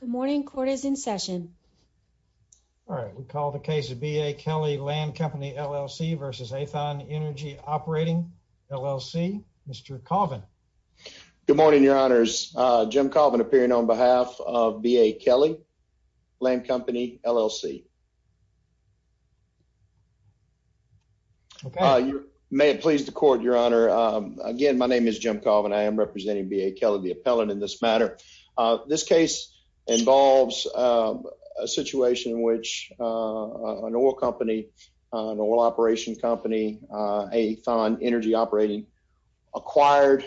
Good morning. Court is in session. All right. We call the case of B. A. Kelly Land Company, L.L.C. v. Aethon Energy Operating, L.L.C. Mr. Colvin. Good morning, Your Honors. Jim Colvin appearing on behalf of B. A. Kelly Land Company, L.L.C. Okay. May it please the court, Your Honor. Again, my name is Jim Colvin. I am representing B. A. Kelly, the appellant in this matter. This case involves a situation in which an oil company, an oil operation company, Aethon Energy Operating, acquired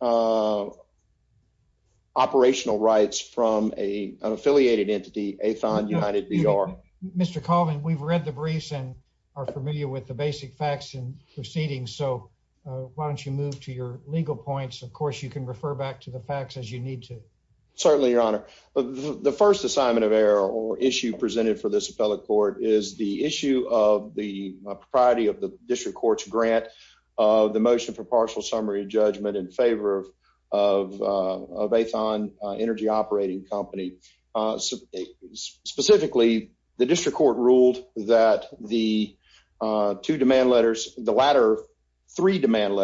operational rights from an affiliated entity, Aethon United B.R. Mr. Colvin, we've read the briefs and are familiar with the basic facts and proceedings, so why don't you move to your legal points? Of course, you can refer back to the facts as you need to. Certainly, Your Honor. The first assignment of error or issue presented for this appellate court is the issue of the propriety of the district court's grant of the motion for partial summary judgment in favor of Aethon Energy Operating Company. Specifically, the district court ruled that the two demand letters, the latter three demand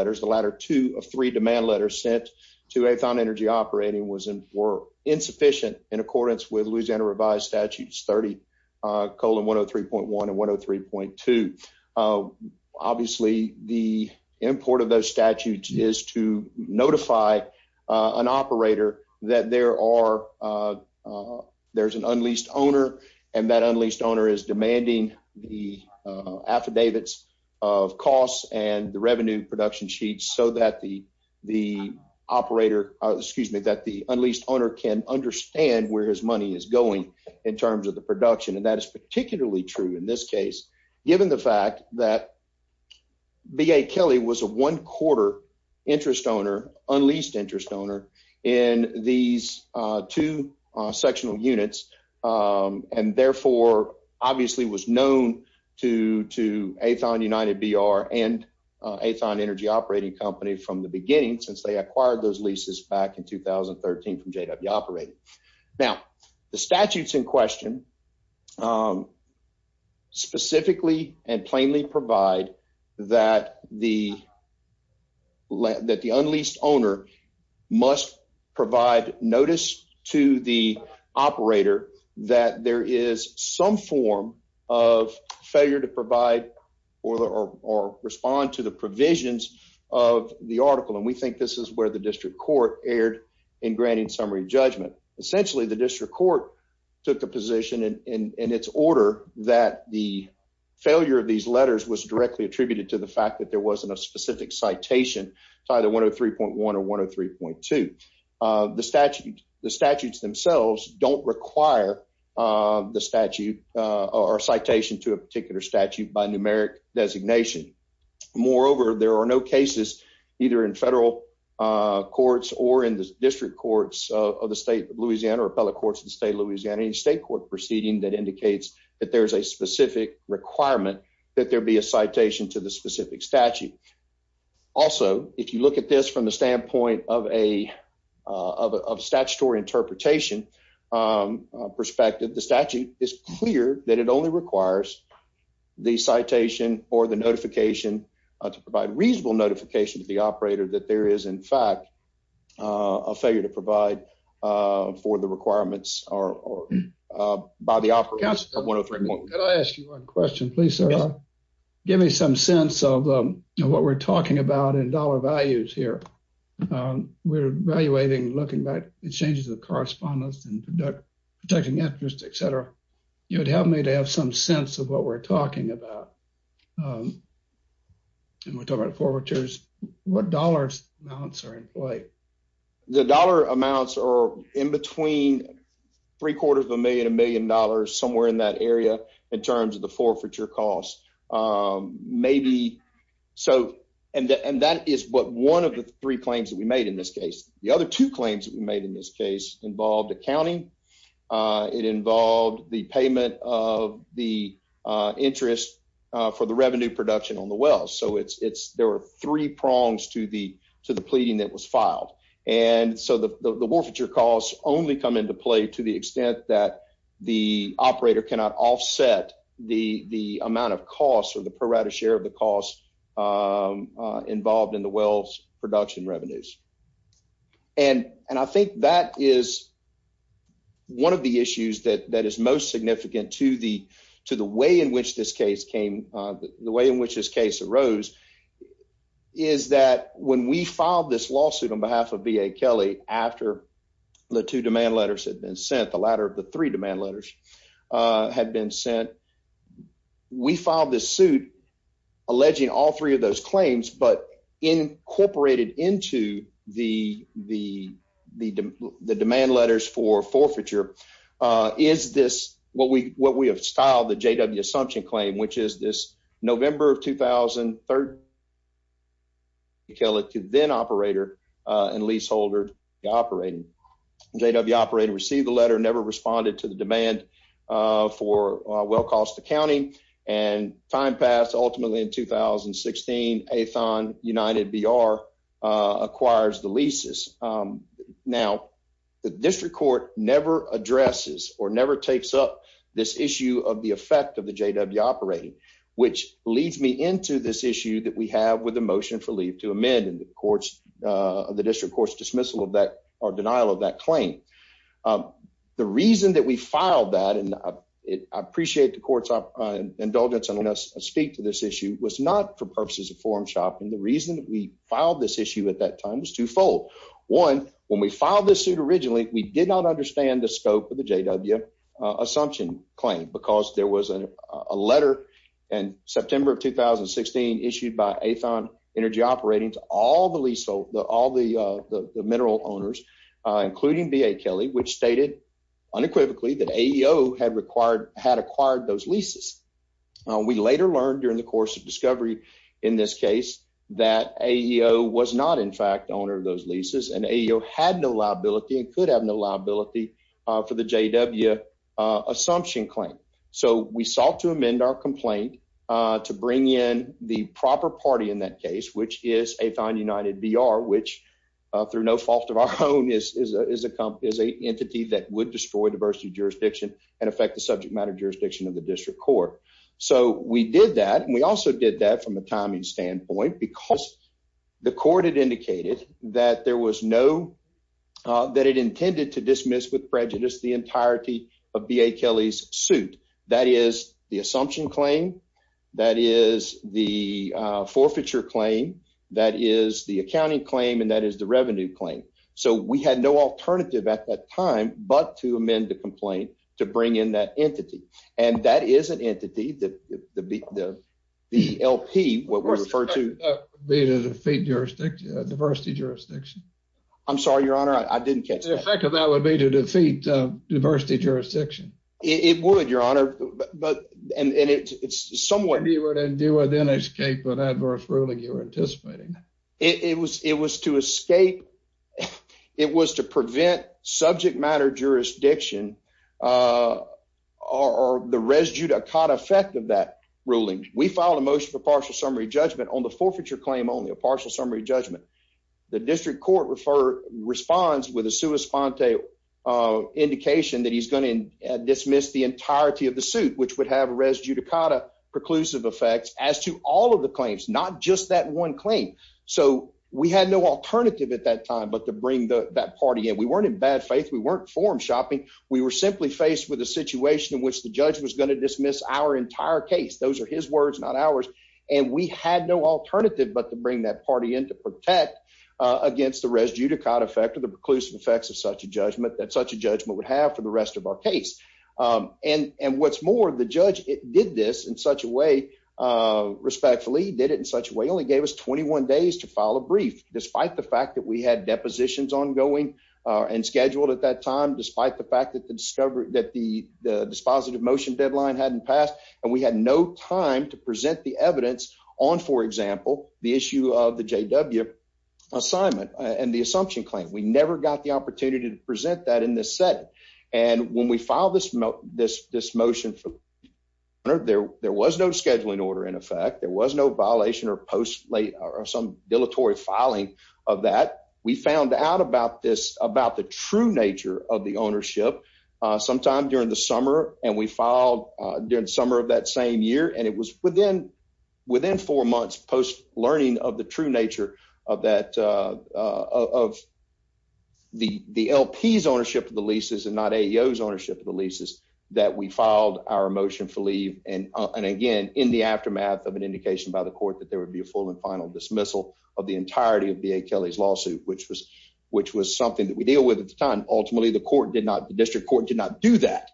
sent to Aethon Energy Operating were insufficient in accordance with Louisiana revised statutes 30 colon 103.1 and 103.2. Obviously, the import of those statutes is to notify an operator that there's an unleased owner and that unleased owner is demanding the affidavits of costs and revenue production sheets so that the operator, excuse me, that the unleased owner can understand where his money is going in terms of the production. And that is particularly true in this case, given the fact that B.A. Kelly was a one quarter interest owner, unleased interest owner in these two sectional units and therefore obviously was known to to Aethon United B.R. and Aethon Energy Operating Company from the beginning since they acquired those leases back in 2013 from JW Operating. Now, the statutes in question specifically and plainly provide that the that the unleased owner must provide notice to the operator that there is some form of failure to provide or or respond to the provisions of the article. And we think this is where the district court erred in granting summary judgment. Essentially, the district court took a position in its order that the failure of these letters was directly attributed to the fact that there wasn't a specific citation to either 103.1 or 103.2. The statute the statutes themselves don't require the statute or citation to a particular statute by numeric designation. Moreover, there are no cases either in federal courts or in the district courts of the state Louisiana or appellate courts in the state of Louisiana state court proceeding that indicates that there is a specific requirement that there be a citation to the specific statute. Also, if you look at this from the standpoint of a of statutory interpretation perspective, the statute is clear that it only requires the citation or the notification to provide reasonable notification to the operator that there is, in fact, a failure to provide for the requirements or by the operators of 103.1. Can I ask you one question, please, sir? Give me some sense of what we're talking about in dollar values here. We're evaluating looking back at changes of correspondence and protecting interest, et cetera. You would help me to have some sense of what we're talking about. We're talking about forfeitures. What dollar amounts are in play? The dollar amounts are in between three quarters of a million, a million dollars, somewhere in that area in terms of the forfeiture costs. Maybe so and that is what one of the three claims that we made in this case. The other two claims that we made in this case involved accounting. It involved the payment of the interest for the revenue production on the wells. So it's there were three prongs to the to the pleading that was filed. And so the forfeiture costs only come into play to the extent that the operator cannot offset the amount of costs or the pro rata share of the costs involved in the wells production revenues. And and I think that is one of the issues that that is most significant to the to the way in which this case came, the way in which this case arose, is that when we filed this lawsuit on behalf of V. A. Kelly after the two demand letters had been sent, the latter of the three demand letters had been sent. We filed this suit alleging all three of those claims, but incorporated into the the the demand letters for forfeiture. Uh, is this what we what we have styled the J. W. Assumption claim, which is this November of two thousand third. Kelly to then operator and leaseholder operating J. W. Operator received the letter, never responded to the demand for well cost accounting and time passed. Ultimately, in two thousand sixteen, a thon United B. R. Uh, acquires the leases. Um, now the district court never addresses or never takes up this issue of the effect of the J. W. Operating, which leads me into this issue that we have with the motion for leave to amend the courts of the district courts dismissal of that or denial of that claim. Um, the reason that we was not for purposes of forum shopping. The reason that we filed this issue at that time was twofold. One when we filed this suit originally, we did not understand the scope of the J. W. Assumption claim because there was a letter in September of two thousand sixteen issued by a thon energy operating to all the leasehold, all the mineral owners, including B. A. Kelly, which stated unequivocally that A. E. O. Had required had acquired those leases. We later learned during the course of discovery in this case that A. E. O. Was not, in fact, owner of those leases and A. O. Had no liability and could have no liability for the J. W. Assumption claim. So we sought to amend our complaint to bring in the proper party in that case, which is a thon United B. R. Which through no fault of our own is a company is a entity that would destroy diversity jurisdiction and affect the subject matter jurisdiction of the district court. So we did that. And we also did that from a timing standpoint, because the court had indicated that there was no that it intended to dismiss with prejudice the entirety of B. A. Kelly's suit. That is the assumption claim. That is the forfeiture claim. That is the accounting claim. And that is the revenue claim. So we had no alternative at that time but to amend the complaint to bring in that entity. And that is an entity that the L. P. What we refer to be to defeat jurisdiction diversity jurisdiction. I'm sorry, Your Honor. I didn't catch the effect of that would be to defeat diversity jurisdiction. It would, Your Honor. But and it's somewhere you were to do within escape with adverse ruling. You're anticipating it was. It was to escape. It was to prevent subject matter jurisdiction. Uh, or the residue to caught effect of that ruling. We filed a motion for partial summary judgment on the forfeiture claim. Only a partial summary judgment. The district court refer responds with a suespante, uh, indication that he's gonna dismiss the entirety of the suit, which would have residue Dakota preclusive effects as to all of the claims, not just that one claim. So we had no alternative at that time, but to bring that party and we weren't in bad faith. We weren't forum shopping. We were simply faced with a situation in which the judge was going to dismiss our entire case. Those are his words, not ours. And we had no alternative but to bring that party in to protect against the residue to caught effect of the preclusive effects of such a judgment that such a judgment would have for the rest of our case. Um, and what's more, the judge did this in such a way respectfully did it in such a way only gave us 21 days to follow brief, despite the fact that we had depositions ongoing and scheduled at that time, despite the fact that the discovery that the dispositive motion deadline hadn't passed and we had no time to present the evidence on, for example, the issue of the J. W. Assignment and the assumption claim. We never got opportunity to present that in this set. And when we filed this, this this motion for there, there was no scheduling order. In effect, there was no violation or post late or some dilatory filing of that. We found out about this about the true nature of the ownership sometime during the summer, and we filed during the summer of that same year, and it was within within four months post learning of the true nature of that, uh, of the L. P. S. Ownership of the leases and not a E. O. S. Ownership of the leases that we filed our emotion for leave and again in the aftermath of an indication by the court that there would be a full and final dismissal of the entirety of B. A. Kelly's lawsuit, which was which was something that we deal with at the time. Ultimately, the court did not. The district court did not do that.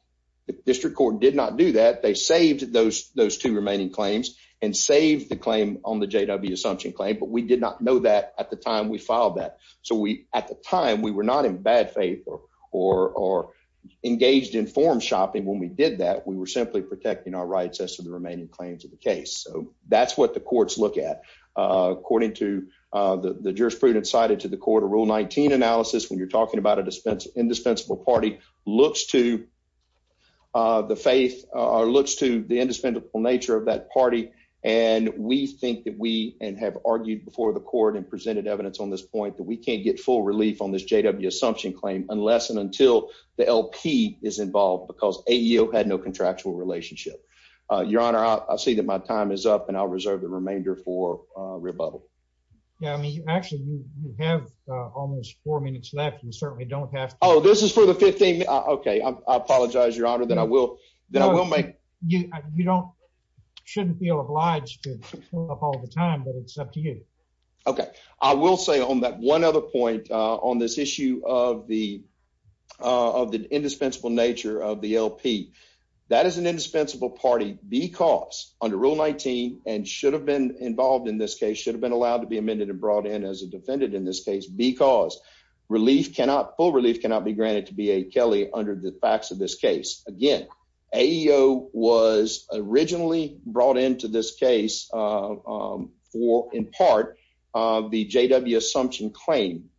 The district court did not do that. They saved those those two remaining claims and save the claim on the J. W. Assumption claim. But we did not know that at the time we filed that. So we at the time we were not in bad faith or or engaged in form shopping. When we did that, we were simply protecting our rights as to the remaining claims of the case. So that's what the courts look at, according to the jurisprudence cited to the court of Rule 19 analysis. When you're talking about a dispense, indispensable party looks to, uh, the faith or looks to the indispensable nature of that party. And we think that we and have argued before the court and presented evidence on this point that we can't get full relief on this J. W. Assumption claim unless and until the L. P. Is involved because a E. O. Had no contractual relationship. Uh, Your Honor, I see that my time is up and I'll reserve the remainder for rebuttal. Yeah, I mean, actually, you have almost four minutes left. You certainly don't have. Oh, this is for the 15. Okay, I apologize, Your Honor. Then I will. Then I will make you. You don't shouldn't feel obliged to pull up all the time, but it's up to you. Okay, I will say on that one other point on this issue of the of the indispensable nature of the L. P. That is an indispensable party because under Rule 19 and should have been involved in this case should have allowed to be amended and brought in as a defendant in this case because relief cannot pull. Relief cannot be granted to be a Kelly under the facts of this case. Again, a E. O. Was originally brought into this case, uh, for in part of the J. W. Assumption claim.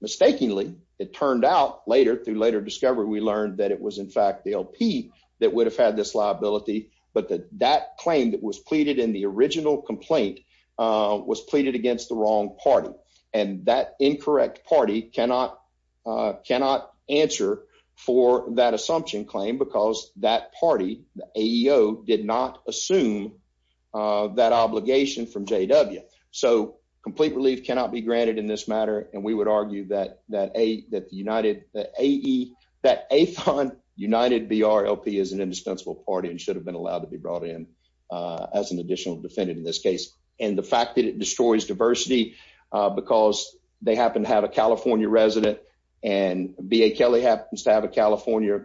Mistakenly, it turned out later through later discovery. We learned that it was, in fact, the L. P. That would have had this liability. But that that claim that was pleaded in the original complaint was pleaded against the wrong party, and that incorrect party cannot cannot answer for that assumption claim because that party A. E. O. Did not assume that obligation from J. W. So complete relief cannot be granted in this matter, and we would argue that that a that the United A. E. That a fund United B. R. L. P. Is an additional defendant in this case, and the fact that it destroys diversity because they happen to have a California resident and B. A. Kelly happens to have a California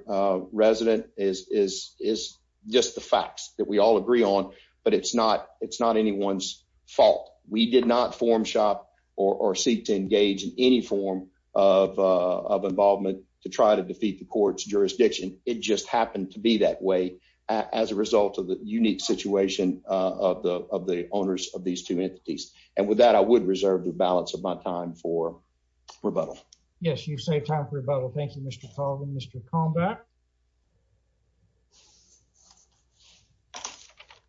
resident is is is just the facts that we all agree on. But it's not. It's not anyone's fault. We did not form shop or seek to engage in any form of of involvement to try to defeat the court's jurisdiction. It just happened to be that way as a result of the unique situation of the of the owners of these two entities. And with that, I would reserve the balance of my time for rebuttal. Yes, you say time for rebuttal. Thank you, Mr. Paul and Mr. Combat.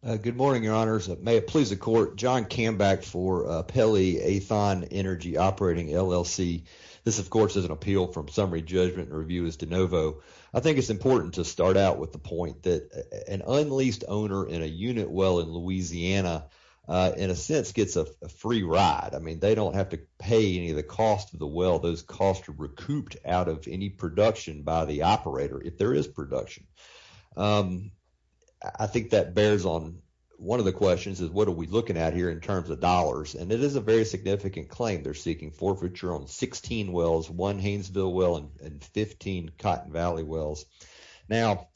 Good morning, Your Honors. May it please the court. John came back for Pele Athan Energy Operating LLC. This, of course, is an appeal from summary judgment. Review is de novo. I think it's important to start out with the point that an unleased owner in a unit well in Louisiana in a sense gets a free ride. I mean, they don't have to pay any of the cost of the well. Those costs are recouped out of any production by the operator if there is production. I think that bears on one of the questions is what are we looking at here in terms of dollars? And it is a very significant claim. They're seeking forfeiture on 16 wells, one Haynesville well and 15 Cotton Valley wells. Now,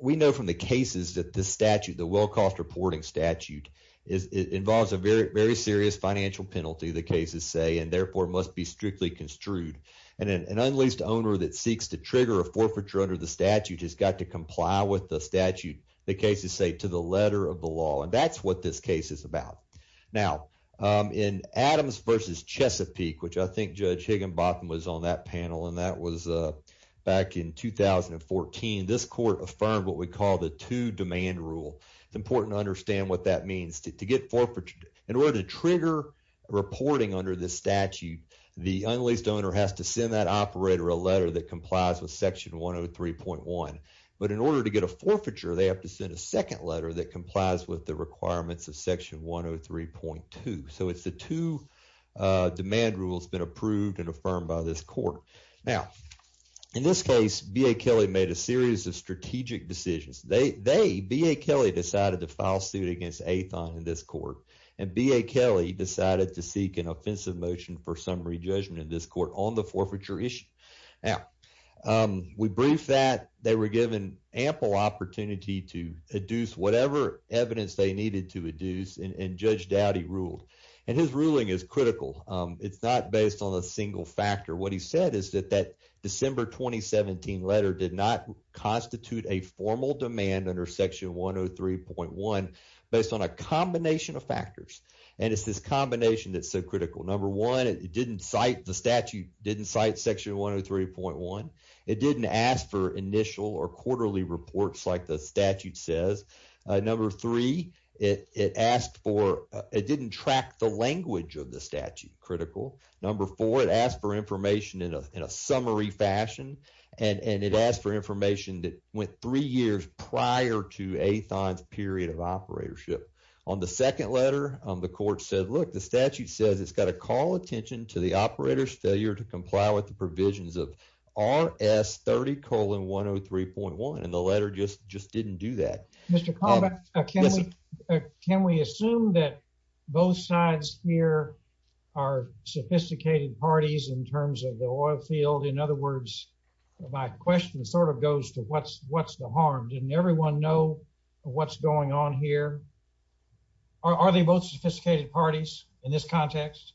we know from the cases that the statute, the well cost reporting statute, involves a very serious financial penalty, the cases say, and therefore must be strictly construed. And an unleased owner that seeks to trigger a forfeiture under the statute has got to comply with the statute, the cases say, to the letter of the law. And that's what this case is about. Now, in Adams versus Chesapeake, which I think Judge Higginbotham was on that panel, and that was back in 2014, this court affirmed what we call the two demand rule. It's important to understand what that means. To get forfeiture, in order to trigger reporting under this statute, the unleased owner has to send that operator a letter that complies with section 103.1. But in order to get a forfeiture, they have to send a second letter that complies with the requirements of section 103.2. So, it's the two demand rules been approved and affirmed by this court. Now, in this case, B.A. Kelly made a series of strategic decisions. They, B.A. Kelly, decided to file suit against Athon in this court, and B.A. Kelly decided to seek an offensive motion for summary judgment in this court on the forfeiture issue. Now, we briefed that. They were given ample opportunity to adduce whatever evidence they needed to adduce, and his ruling is critical. It's not based on a single factor. What he said is that that December 2017 letter did not constitute a formal demand under section 103.1 based on a combination of factors, and it's this combination that's so critical. Number one, it didn't cite, the statute didn't cite section 103.1. It didn't ask for initial or quarterly reports like the statute says. Number three, it asked for, it didn't track the language of the statute, critical. Number four, it asked for information in a summary fashion, and it asked for information that went three years prior to Athon's period of operatorship. On the second letter, the court said, look, the statute says it's got to call attention to the operator's failure to comply with the provisions of RS 30 103.1, and the letter just didn't do that. Mr. Caldwell, can we assume that both sides here are sophisticated parties in terms of the oil field? In other words, my question sort of goes to what's the harm? Didn't everyone know what's going on here? Are they both sophisticated parties in this context?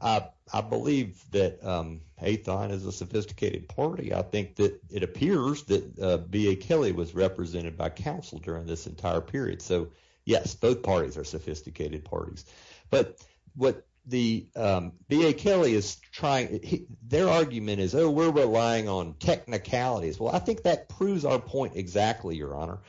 I believe that Athon is a sophisticated party. I think that it appears that B.A. Kelly was represented by counsel during this entire period. So yes, both parties are sophisticated parties. But what the B.A. Kelly is trying, their argument is, oh, we're relying on technicalities. Well, I think that proves our point exactly, Your Honor.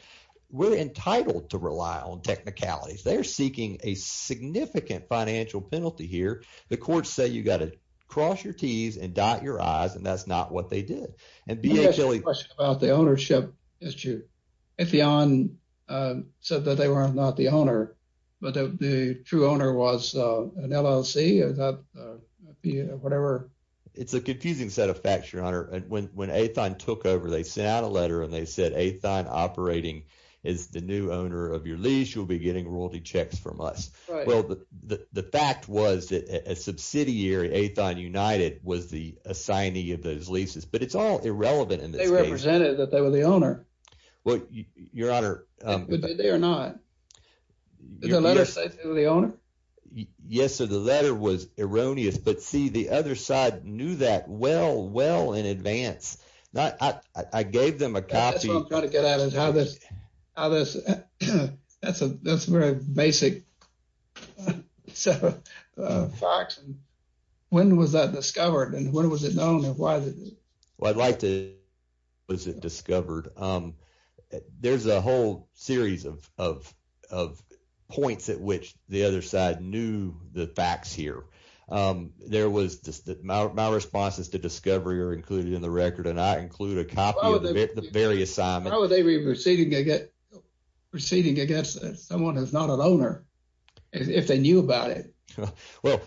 We're entitled to rely on technicalities. They're seeking a significant financial penalty here. The courts say you've got to cross your T's and dot your I's, and that's not what they did. And B.A. Kelly- I have a question about the ownership issue. Ethion said that they were not the owner, but the true owner was an LLC or whatever. It's a confusing set of facts, Your Honor. When Athon took over, they sent out a letter, and they said, Athon operating is the new owner of your lease. You'll be getting royalty checks from us. Well, the fact was that a subsidiary, Athon United, was the assignee of those leases. But it's all irrelevant in this case. They represented that they were the owner. Well, Your Honor- Did they or not? Did the letter say they were the owner? Yes, sir. The letter was erroneous. But see, the other side knew that well, well in advance. I gave them a copy- That's what I'm trying to get at. That's a very basic set of facts. When was that discovered, and when was it known, and why was it- Well, I'd like to know when it was discovered. There's a whole series of points at which the other side knew the facts here. My responses to discovery are included in the record, and I include a copy of the very assignment. How would they be proceeding against someone who's not an owner if they knew about it? Well,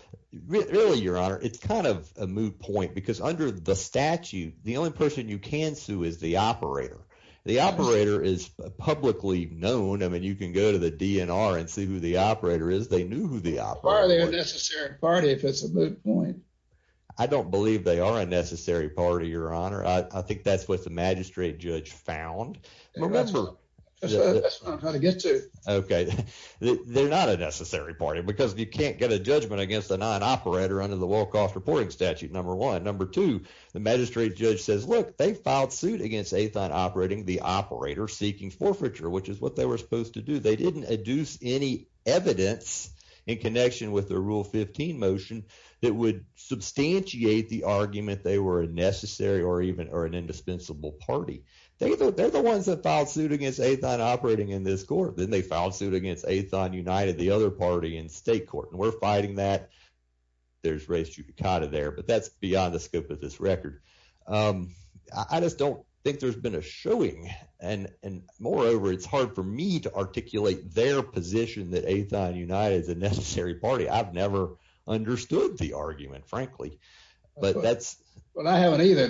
really, Your Honor, it's kind of a moot point because under the statute, the only person you can sue is the operator. The operator is publicly known. I mean, you can go to the DNR and see who the operator is. They knew who the operator was. Why are they a necessary party if it's a moot point? I don't believe they are a necessary party, Your Honor. I think that's what the magistrate judge found. That's what I'm trying to get to. Okay. They're not a necessary party because you can't get a judgment against a non-operator under the low-cost reporting statute, number one. Number two, the magistrate judge says, look, they filed suit against Athon Operating, the operator seeking forfeiture, which is what they were supposed to do. They didn't adduce any evidence in connection with the Rule 15 motion that would substantiate the argument they were a necessary or even an indispensable party. They're the ones that filed suit against Athon Operating in this court. Then they filed suit against Athon United, the other party in state court, and we're fighting that. There's race judicata there, but that's beyond the scope of this record. I just don't think there's been a showing, and moreover, it's hard for me to articulate their position that Athon United is a necessary party. I've never understood the argument, frankly. I haven't either.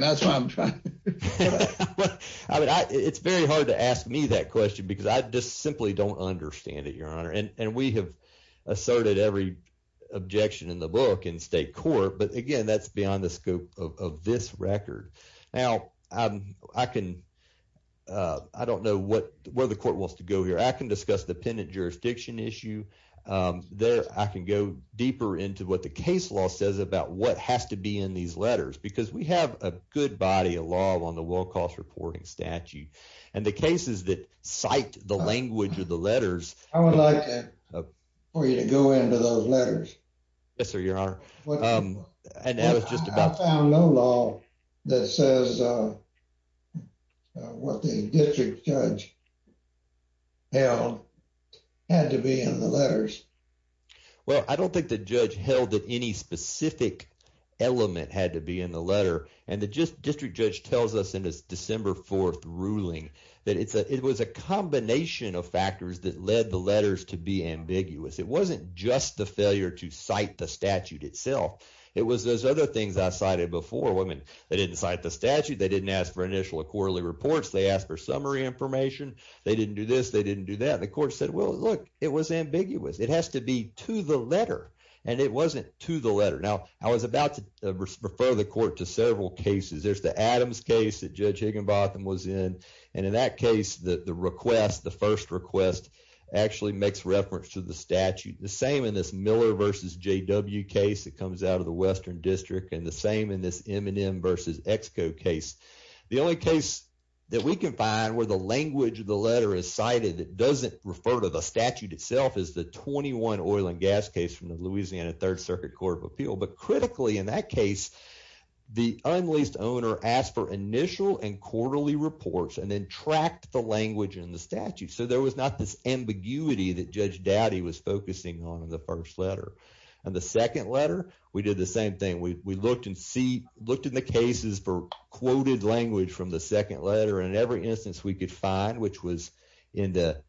It's very hard to ask me that question because I just simply don't understand it, Your Honor. We have asserted every objection in the book in state court, but again, that's beyond the scope of this record. Now, I don't know where the court wants to go here. I can discuss the jurisdiction issue. I can go deeper into what the case law says about what has to be in these letters because we have a good body of law on the Wilcox reporting statute, and the cases that cite the language of the letters— I would like for you to go into those letters. Yes, sir, Your Honor. I found no law that says what the district judge held had to be in the letters. Well, I don't think the judge held that any specific element had to be in the letter, and the district judge tells us in his December 4th ruling that it was a combination of factors that led the letters to be ambiguous. It wasn't just the failure to cite the statute itself. It was those other things I cited before. They didn't cite the statute. They didn't ask for this. They didn't do that. The court said, well, look, it was ambiguous. It has to be to the letter, and it wasn't to the letter. Now, I was about to refer the court to several cases. There's the Adams case that Judge Higginbotham was in, and in that case, the request, the first request, actually makes reference to the statute. The same in this Miller v. J.W. case that comes out of the Western District and the same in this M&M v. Exco case. The only case that we can find where the language of the letter is cited that doesn't refer to the statute itself is the 21 oil and gas case from the Louisiana Third Circuit Court of Appeal, but critically in that case, the unleased owner asked for initial and quarterly reports and then tracked the language in the statute, so there was not this ambiguity that Judge Dowdy was focusing on in the first letter. In the second letter, we did the same thing. We looked in the cases for quoted language from the which was in the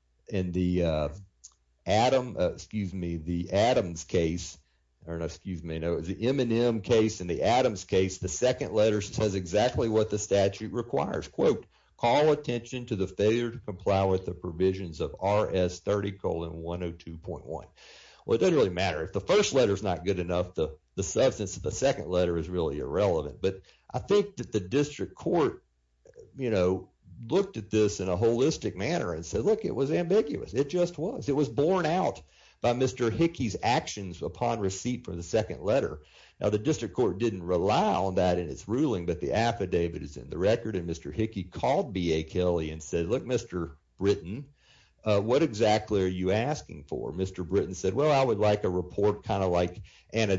Adams case, the M&M case and the Adams case. The second letter says exactly what the statute requires. Quote, call attention to the failure to comply with the provisions of RS 30 colon 102.1. Well, it doesn't really matter. If the first letter is not good enough, the substance of the second letter is really irrelevant, but I think that the district court looked at this in a holistic manner and said, look, it was ambiguous. It just was. It was borne out by Mr. Hickey's actions upon receipt for the second letter. Now, the district court didn't rely on that in its ruling, but the affidavit is in the record and Mr. Hickey called B.A. Kelly and said, look, Mr. Britton, what exactly are you asking for? Mr. Britton said, well, I would like a report kind and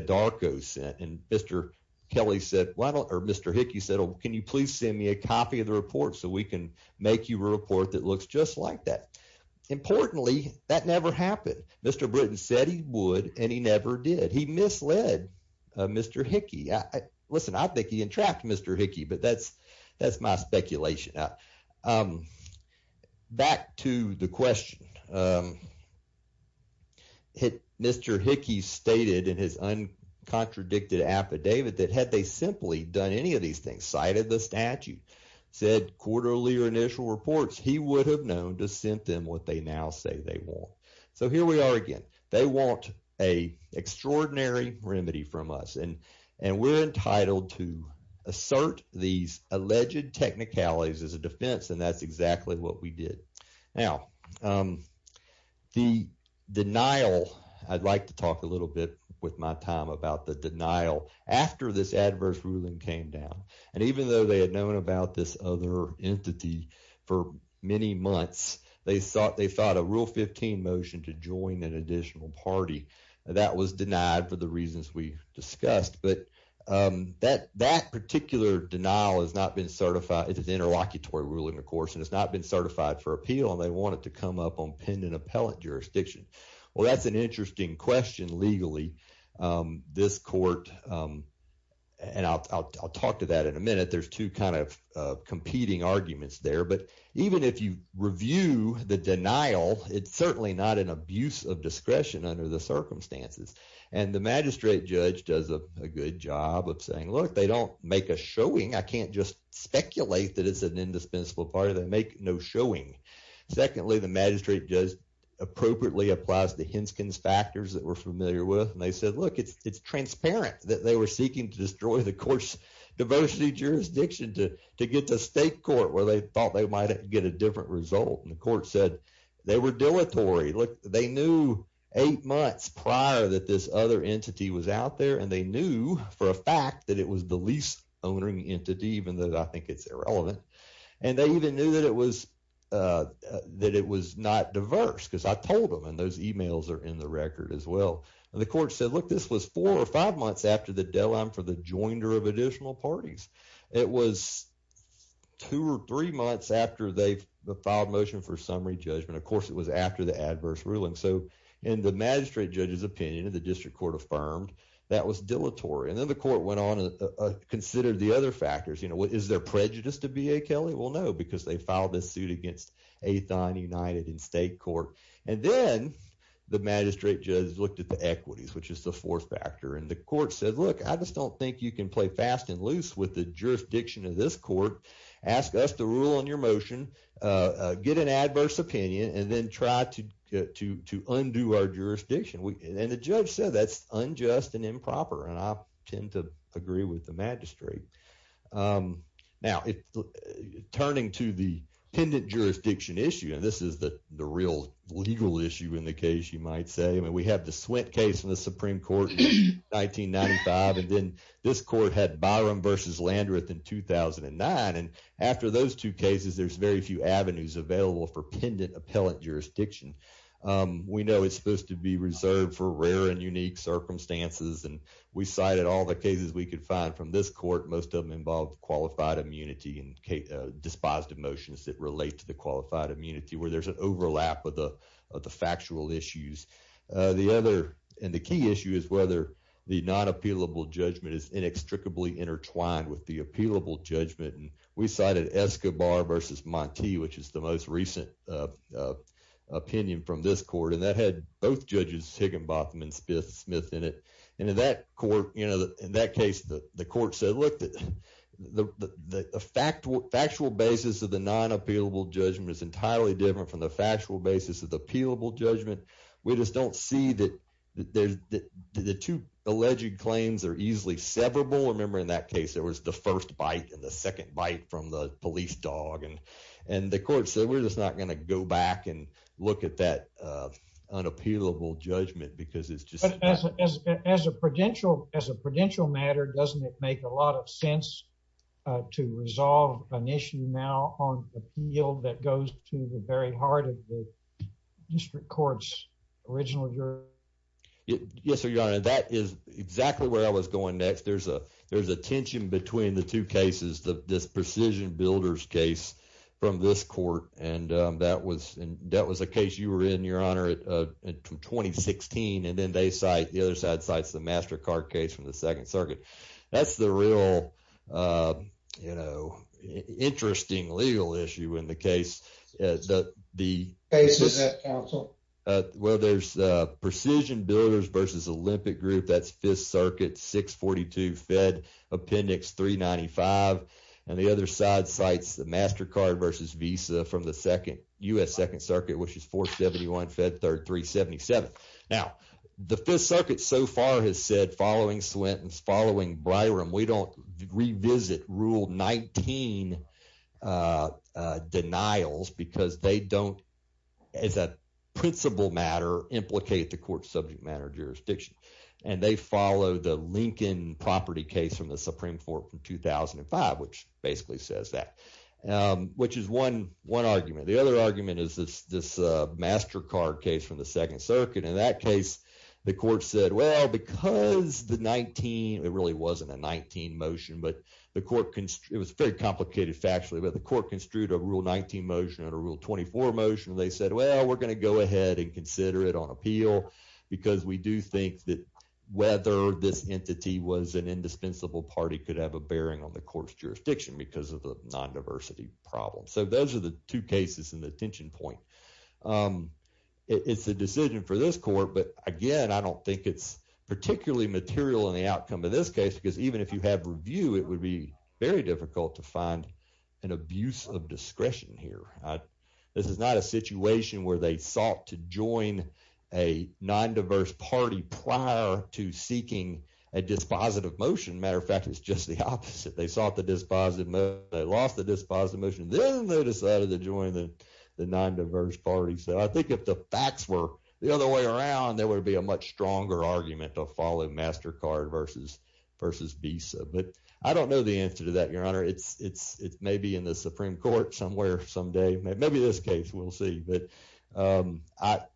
Mr. Kelly said, well, or Mr. Hickey said, oh, can you please send me a copy of the report so we can make you a report that looks just like that? Importantly, that never happened. Mr. Britton said he would and he never did. He misled Mr. Hickey. Listen, I think he entrapped Mr. Hickey, but that's my speculation. Back to the question. Mr. Hickey stated in his uncontradicted affidavit that had they simply done any of these things, cited the statute, said quarterly or initial reports, he would have known to send them what they now say they want. So here we are again. They want a extraordinary remedy from us and we're entitled to assert these alleged technicalities as a defense and that's exactly what we did. Now, the denial, I'd like to talk a little bit with my time about the denial after this adverse ruling came down and even though they had known about this other entity for many months, they thought they thought a rule 15 motion to join an additional party that was denied for the reasons we discussed. But that particular denial has not been certified. It's an interlocutory ruling, of course, and it's not been certified for appeal and they want it to come up on pen and appellate jurisdiction. Well, that's an interesting question legally. This court, and I'll talk to that in a minute, there's two kind of competing arguments there. But even if you review the denial, it's certainly not an abuse of discretion under the circumstances. And the magistrate judge does a good job of saying, look, they don't make a showing. I can't just speculate that it's an indispensable part of that. Make no showing. Secondly, the magistrate does appropriately applies to Hinskin's factors that we're familiar with. And they said, look, it's transparent that they were seeking to destroy the court's diversity jurisdiction to get to state court where they thought they might get a different result. And the court said they were dilatory. Look, they knew eight months prior that this other entity was out there and they knew for a fact that it was the least owning entity, even though I think it's irrelevant. And they even knew that it was that it was not diverse because I told them and those emails are in the record as well. And the court said, look, this was four or five months after the joinder of additional parties. It was two or three months after they filed motion for summary judgment. Of course, it was after the adverse ruling. So in the magistrate judge's opinion of the district court affirmed that was dilatory. And then the court went on and considered the other factors. You know, what is their prejudice to be a Kelly? Well, no, because they filed this suit against a thon united in state court. And then the magistrate judge looked at the equities, which is the fourth factor. And the court said, look, I just don't think you can play fast and loose with the jurisdiction of this court. Ask us to rule on your motion, get an adverse opinion and then try to get to to undo our jurisdiction. And the judge said that's unjust and improper. And I tend to agree with the magistrate. Now, turning to the pendant jurisdiction issue, and this is the real legal issue in the case, you might say, I mean, we have the sweat case in the Supreme Court in 1995. And then this court had Byron versus Landreth in 2009. And after those two cases, there's very few avenues available for pendant appellate jurisdiction. We know it's supposed to be reserved for rare and unique circumstances. And we cited all the cases we could find from this court. Most of them involve qualified immunity and despised emotions that relate to the qualified immunity where there's an overlap with the of the factual issues. The other and the key issue is whether the non appealable judgment is inextricably intertwined with the appealable judgment. And we cited Escobar versus Monty, which is the most recent opinion from this court. And that had both judges Higginbotham and Smith Smith in it. And in that court, you know, in that case, the court said, look, the fact, factual basis of the non appealable judgment is entirely different from the factual basis of appealable judgment. We just don't see that there's the two alleged claims are easily severable. Remember, in that case, there was the first bite and the second bite from the police dog. And and the court said, we're just not going to go back and look at that unappealable judgment because it's just as a prudential as a prudential matter, doesn't it make a lot of sense to resolve an issue now on a field that goes to the very heart of the district courts originally? Yes, sir. Your honor, that is exactly where I was going next. There's a there's a tension between the two cases, this precision builders case from this court. And that was that was a case you were in your honor in 2016. And then they cite the other side sites, the MasterCard case from the Second Circuit. That's the real, you know, interesting legal issue in the case that the case is at Council. Well, there's precision builders versus Olympic Group. That's Fifth Circuit 642 Fed Appendix 395. And the other side sites, the MasterCard versus Visa from the second U.S. Second Circuit, which is 471 Fed 3377. Now, the Fifth Circuit so far has said following Swinton's following Byram, we don't revisit rule 19 denials because they don't, as a principle matter, implicate the court subject matter jurisdiction. And they follow the Lincoln property case from the Supreme Court from 2005, which basically says that which is one one argument. The other argument is this this MasterCard case from the Second Circuit. In that case, the court said, well, because the 19, it really wasn't a 19 motion, but the court, it was very complicated factually, but the court construed a rule 19 motion and a rule 24 motion. They said, well, we're going to go ahead and consider it on appeal because we do think that whether this entity was an indispensable party could have a bearing on the court's jurisdiction because of the non-diversity problem. So those are the two cases in the tension point. It's a decision for this court, but again, I don't think it's particularly material in the outcome of this case, because even if you have review, it would be very difficult to find an abuse of discretion here. This is not a situation where they sought to join a non-diverse party prior to seeking a dispositive motion. Matter of fact, it's just the opposite. They sought the dispositive motion, then they decided to join the non-diverse party. So I think if the facts were the other way around, there would be a much stronger argument to follow MasterCard versus Visa. But I don't know the answer to that, Your Honor. It's maybe in the Supreme Court somewhere someday. Maybe this case, we'll see. But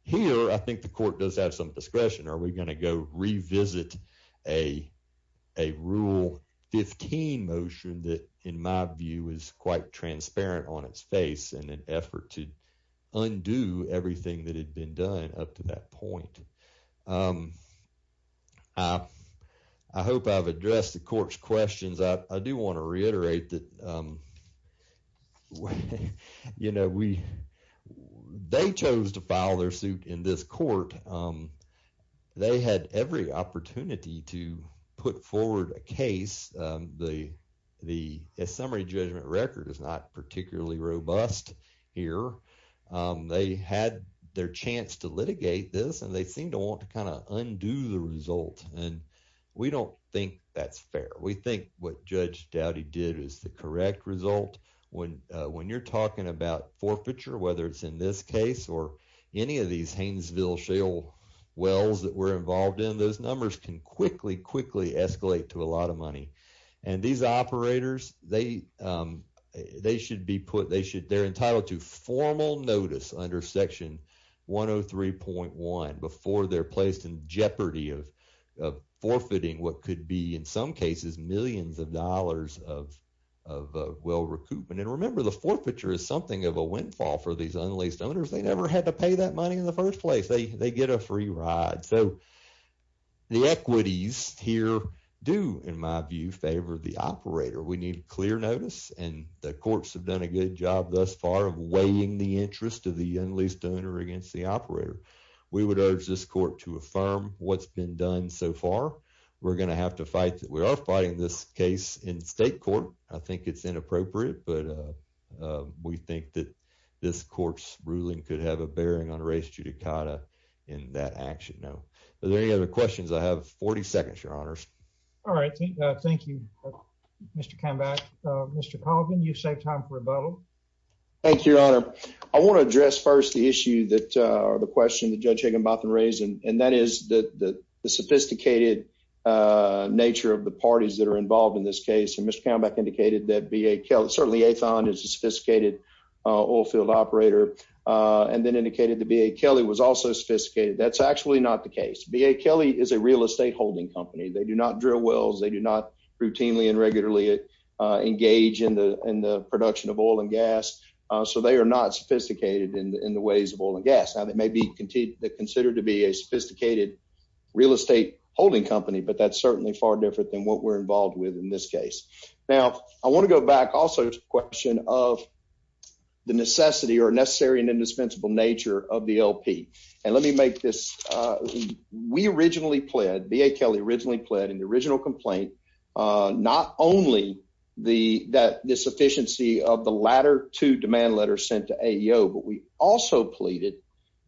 here, I think the court does have some discretion. Are we going to go revisit a case that, in my view, is quite transparent on its face in an effort to undo everything that had been done up to that point? I hope I've addressed the court's questions. I do want to reiterate that they chose to file their suit in this court. They had every opportunity to put forward a case. The summary judgment record is not particularly robust here. They had their chance to litigate this, and they seem to want to kind of undo the result. We don't think that's fair. We think what Judge Dowdy did is the correct result. When you're talking about forfeiture, whether it's in this case or any of these Hainesville wells that we're involved in, those numbers can quickly, quickly escalate to a lot of money. These operators, they're entitled to formal notice under Section 103.1 before they're placed in jeopardy of forfeiting what could be, in some cases, millions of dollars of well recoupment. Remember, the forfeiture is something of a windfall for these unleased owners. They never had to pay that money in the first place. They get a free ride. The equities here do, in my view, favor the operator. We need clear notice, and the courts have done a good job thus far of weighing the interest of the unleased owner against the operator. We would urge this court to affirm what's been done so far. We're going to have to fight. We are fighting this case in state court. I think it's inappropriate, but we think this court's ruling could have a bearing on race judicata in that action. Now, are there any other questions? I have 40 seconds, Your Honor. All right. Thank you, Mr. Cambach. Mr. Colgan, you've saved time for rebuttal. Thank you, Your Honor. I want to address first the issue or the question that Judge Higginbotham raised, and that is the sophisticated nature of the parties that are involved in this case. Mr. Cambach indicated that certainly Athon is a sophisticated oil field operator, and then indicated that B.A. Kelly was also sophisticated. That's actually not the case. B.A. Kelly is a real estate holding company. They do not drill wells. They do not routinely and regularly engage in the production of oil and gas, so they are not sophisticated in the ways of oil and gas. Now, they may be considered to be a sophisticated real estate holding company, but that's certainly far than what we're involved with in this case. Now, I want to go back also to the question of the necessity or necessary and indispensable nature of the LP, and let me make this. We originally pled, B.A. Kelly originally pled in the original complaint, not only that the sufficiency of the latter two demand letters sent to AEO, but we also pleaded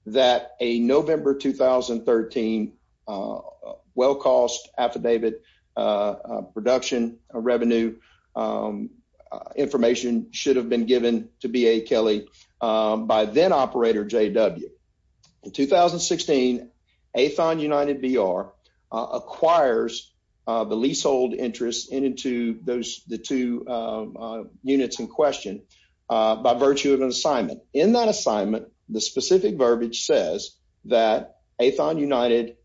that a November 2013 well-cost affidavit production revenue information should have been given to B.A. Kelly by then-operator J.W. In 2016, Athon United BR acquires the leasehold interests into those the two units in question by virtue of an assignment. In that assignment, the specific says that Athon United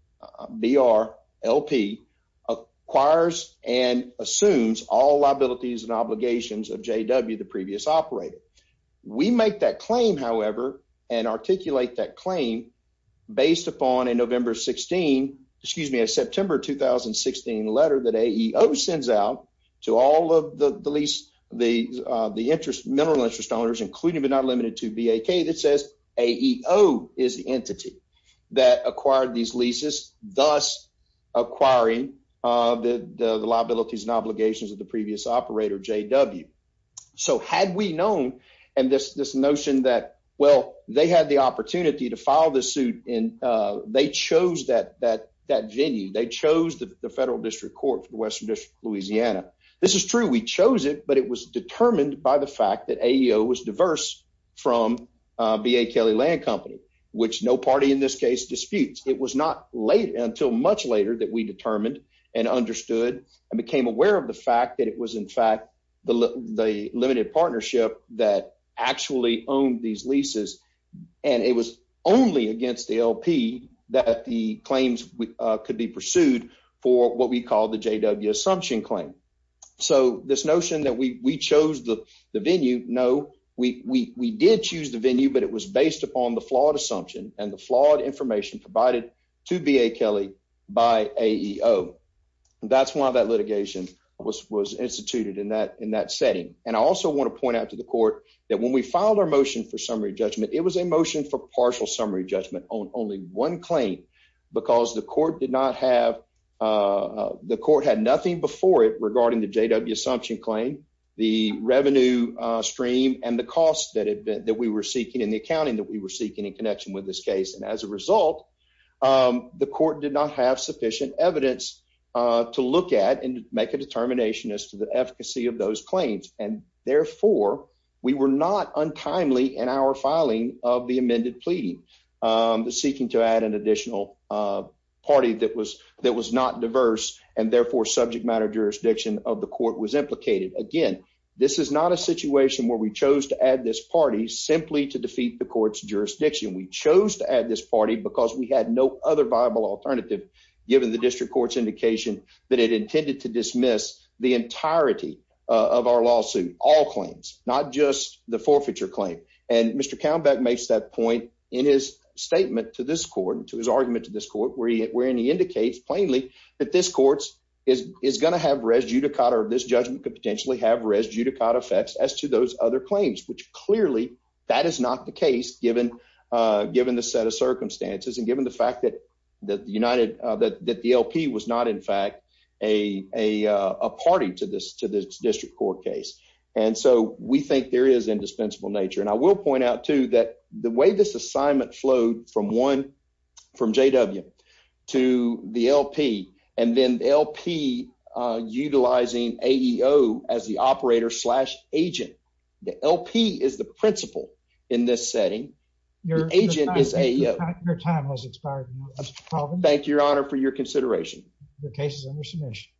BR LP acquires and assumes all liabilities and obligations of J.W., the previous operator. We make that claim, however, and articulate that claim based upon a November 16, excuse me, a September 2016 letter that AEO sends out to all of the lease, the interest, mineral interest owners, including but not limited to B.A. Kelly that says AEO is the entity that acquired these leases, thus acquiring the liabilities and obligations of the previous operator, J.W. So had we known, and this notion that, well, they had the opportunity to file the suit and they chose that venue, they chose the Federal District Court for the Western District Louisiana. This is true. We chose it, but it was determined by the fact that AEO was diverse from B.A. Kelly Land Company, which no party in this case disputes. It was not late until much later that we determined and understood and became aware of the fact that it was, in fact, the limited partnership that actually owned these leases, and it was only So this notion that we chose the venue, no, we did choose the venue, but it was based upon the flawed assumption and the flawed information provided to B.A. Kelly by AEO. That's why that litigation was instituted in that setting. And I also want to point out to the court that when we filed our motion for summary judgment, it was a motion for partial summary judgment on only one because the court did not have the court had nothing before it regarding the J.W. Assumption claim, the revenue stream and the cost that that we were seeking in the accounting that we were seeking in connection with this case. And as a result, the court did not have sufficient evidence to look at and make a determination as to the efficacy of those claims. And therefore, we were not untimely in our filing of the amended pleading, seeking to add an additional party that was that was not diverse and therefore subject matter. Jurisdiction of the court was implicated again. This is not a situation where we chose to add this party simply to defeat the court's jurisdiction. We chose to add this party because we had no other viable alternative, given the district court's indication that it intended to dismiss the not just the forfeiture claim. And Mr. Countback makes that point in his statement to this court to his argument to this court, where he indicates plainly that this court is going to have res judicata. This judgment could potentially have res judicata effects as to those other claims, which clearly that is not the case, given given the set of circumstances and given the fact that the United that the LP was not, in fact, a party to this to this district court case. And so we think there is indispensable nature. And I will point out to that the way this assignment flowed from one from J. W. To the LP and then LP utilizing a E O as the operator slash LP is the principle in this setting. Your agent is a time has expired. Thank you, Your Honor, for your consideration. The case is under submission.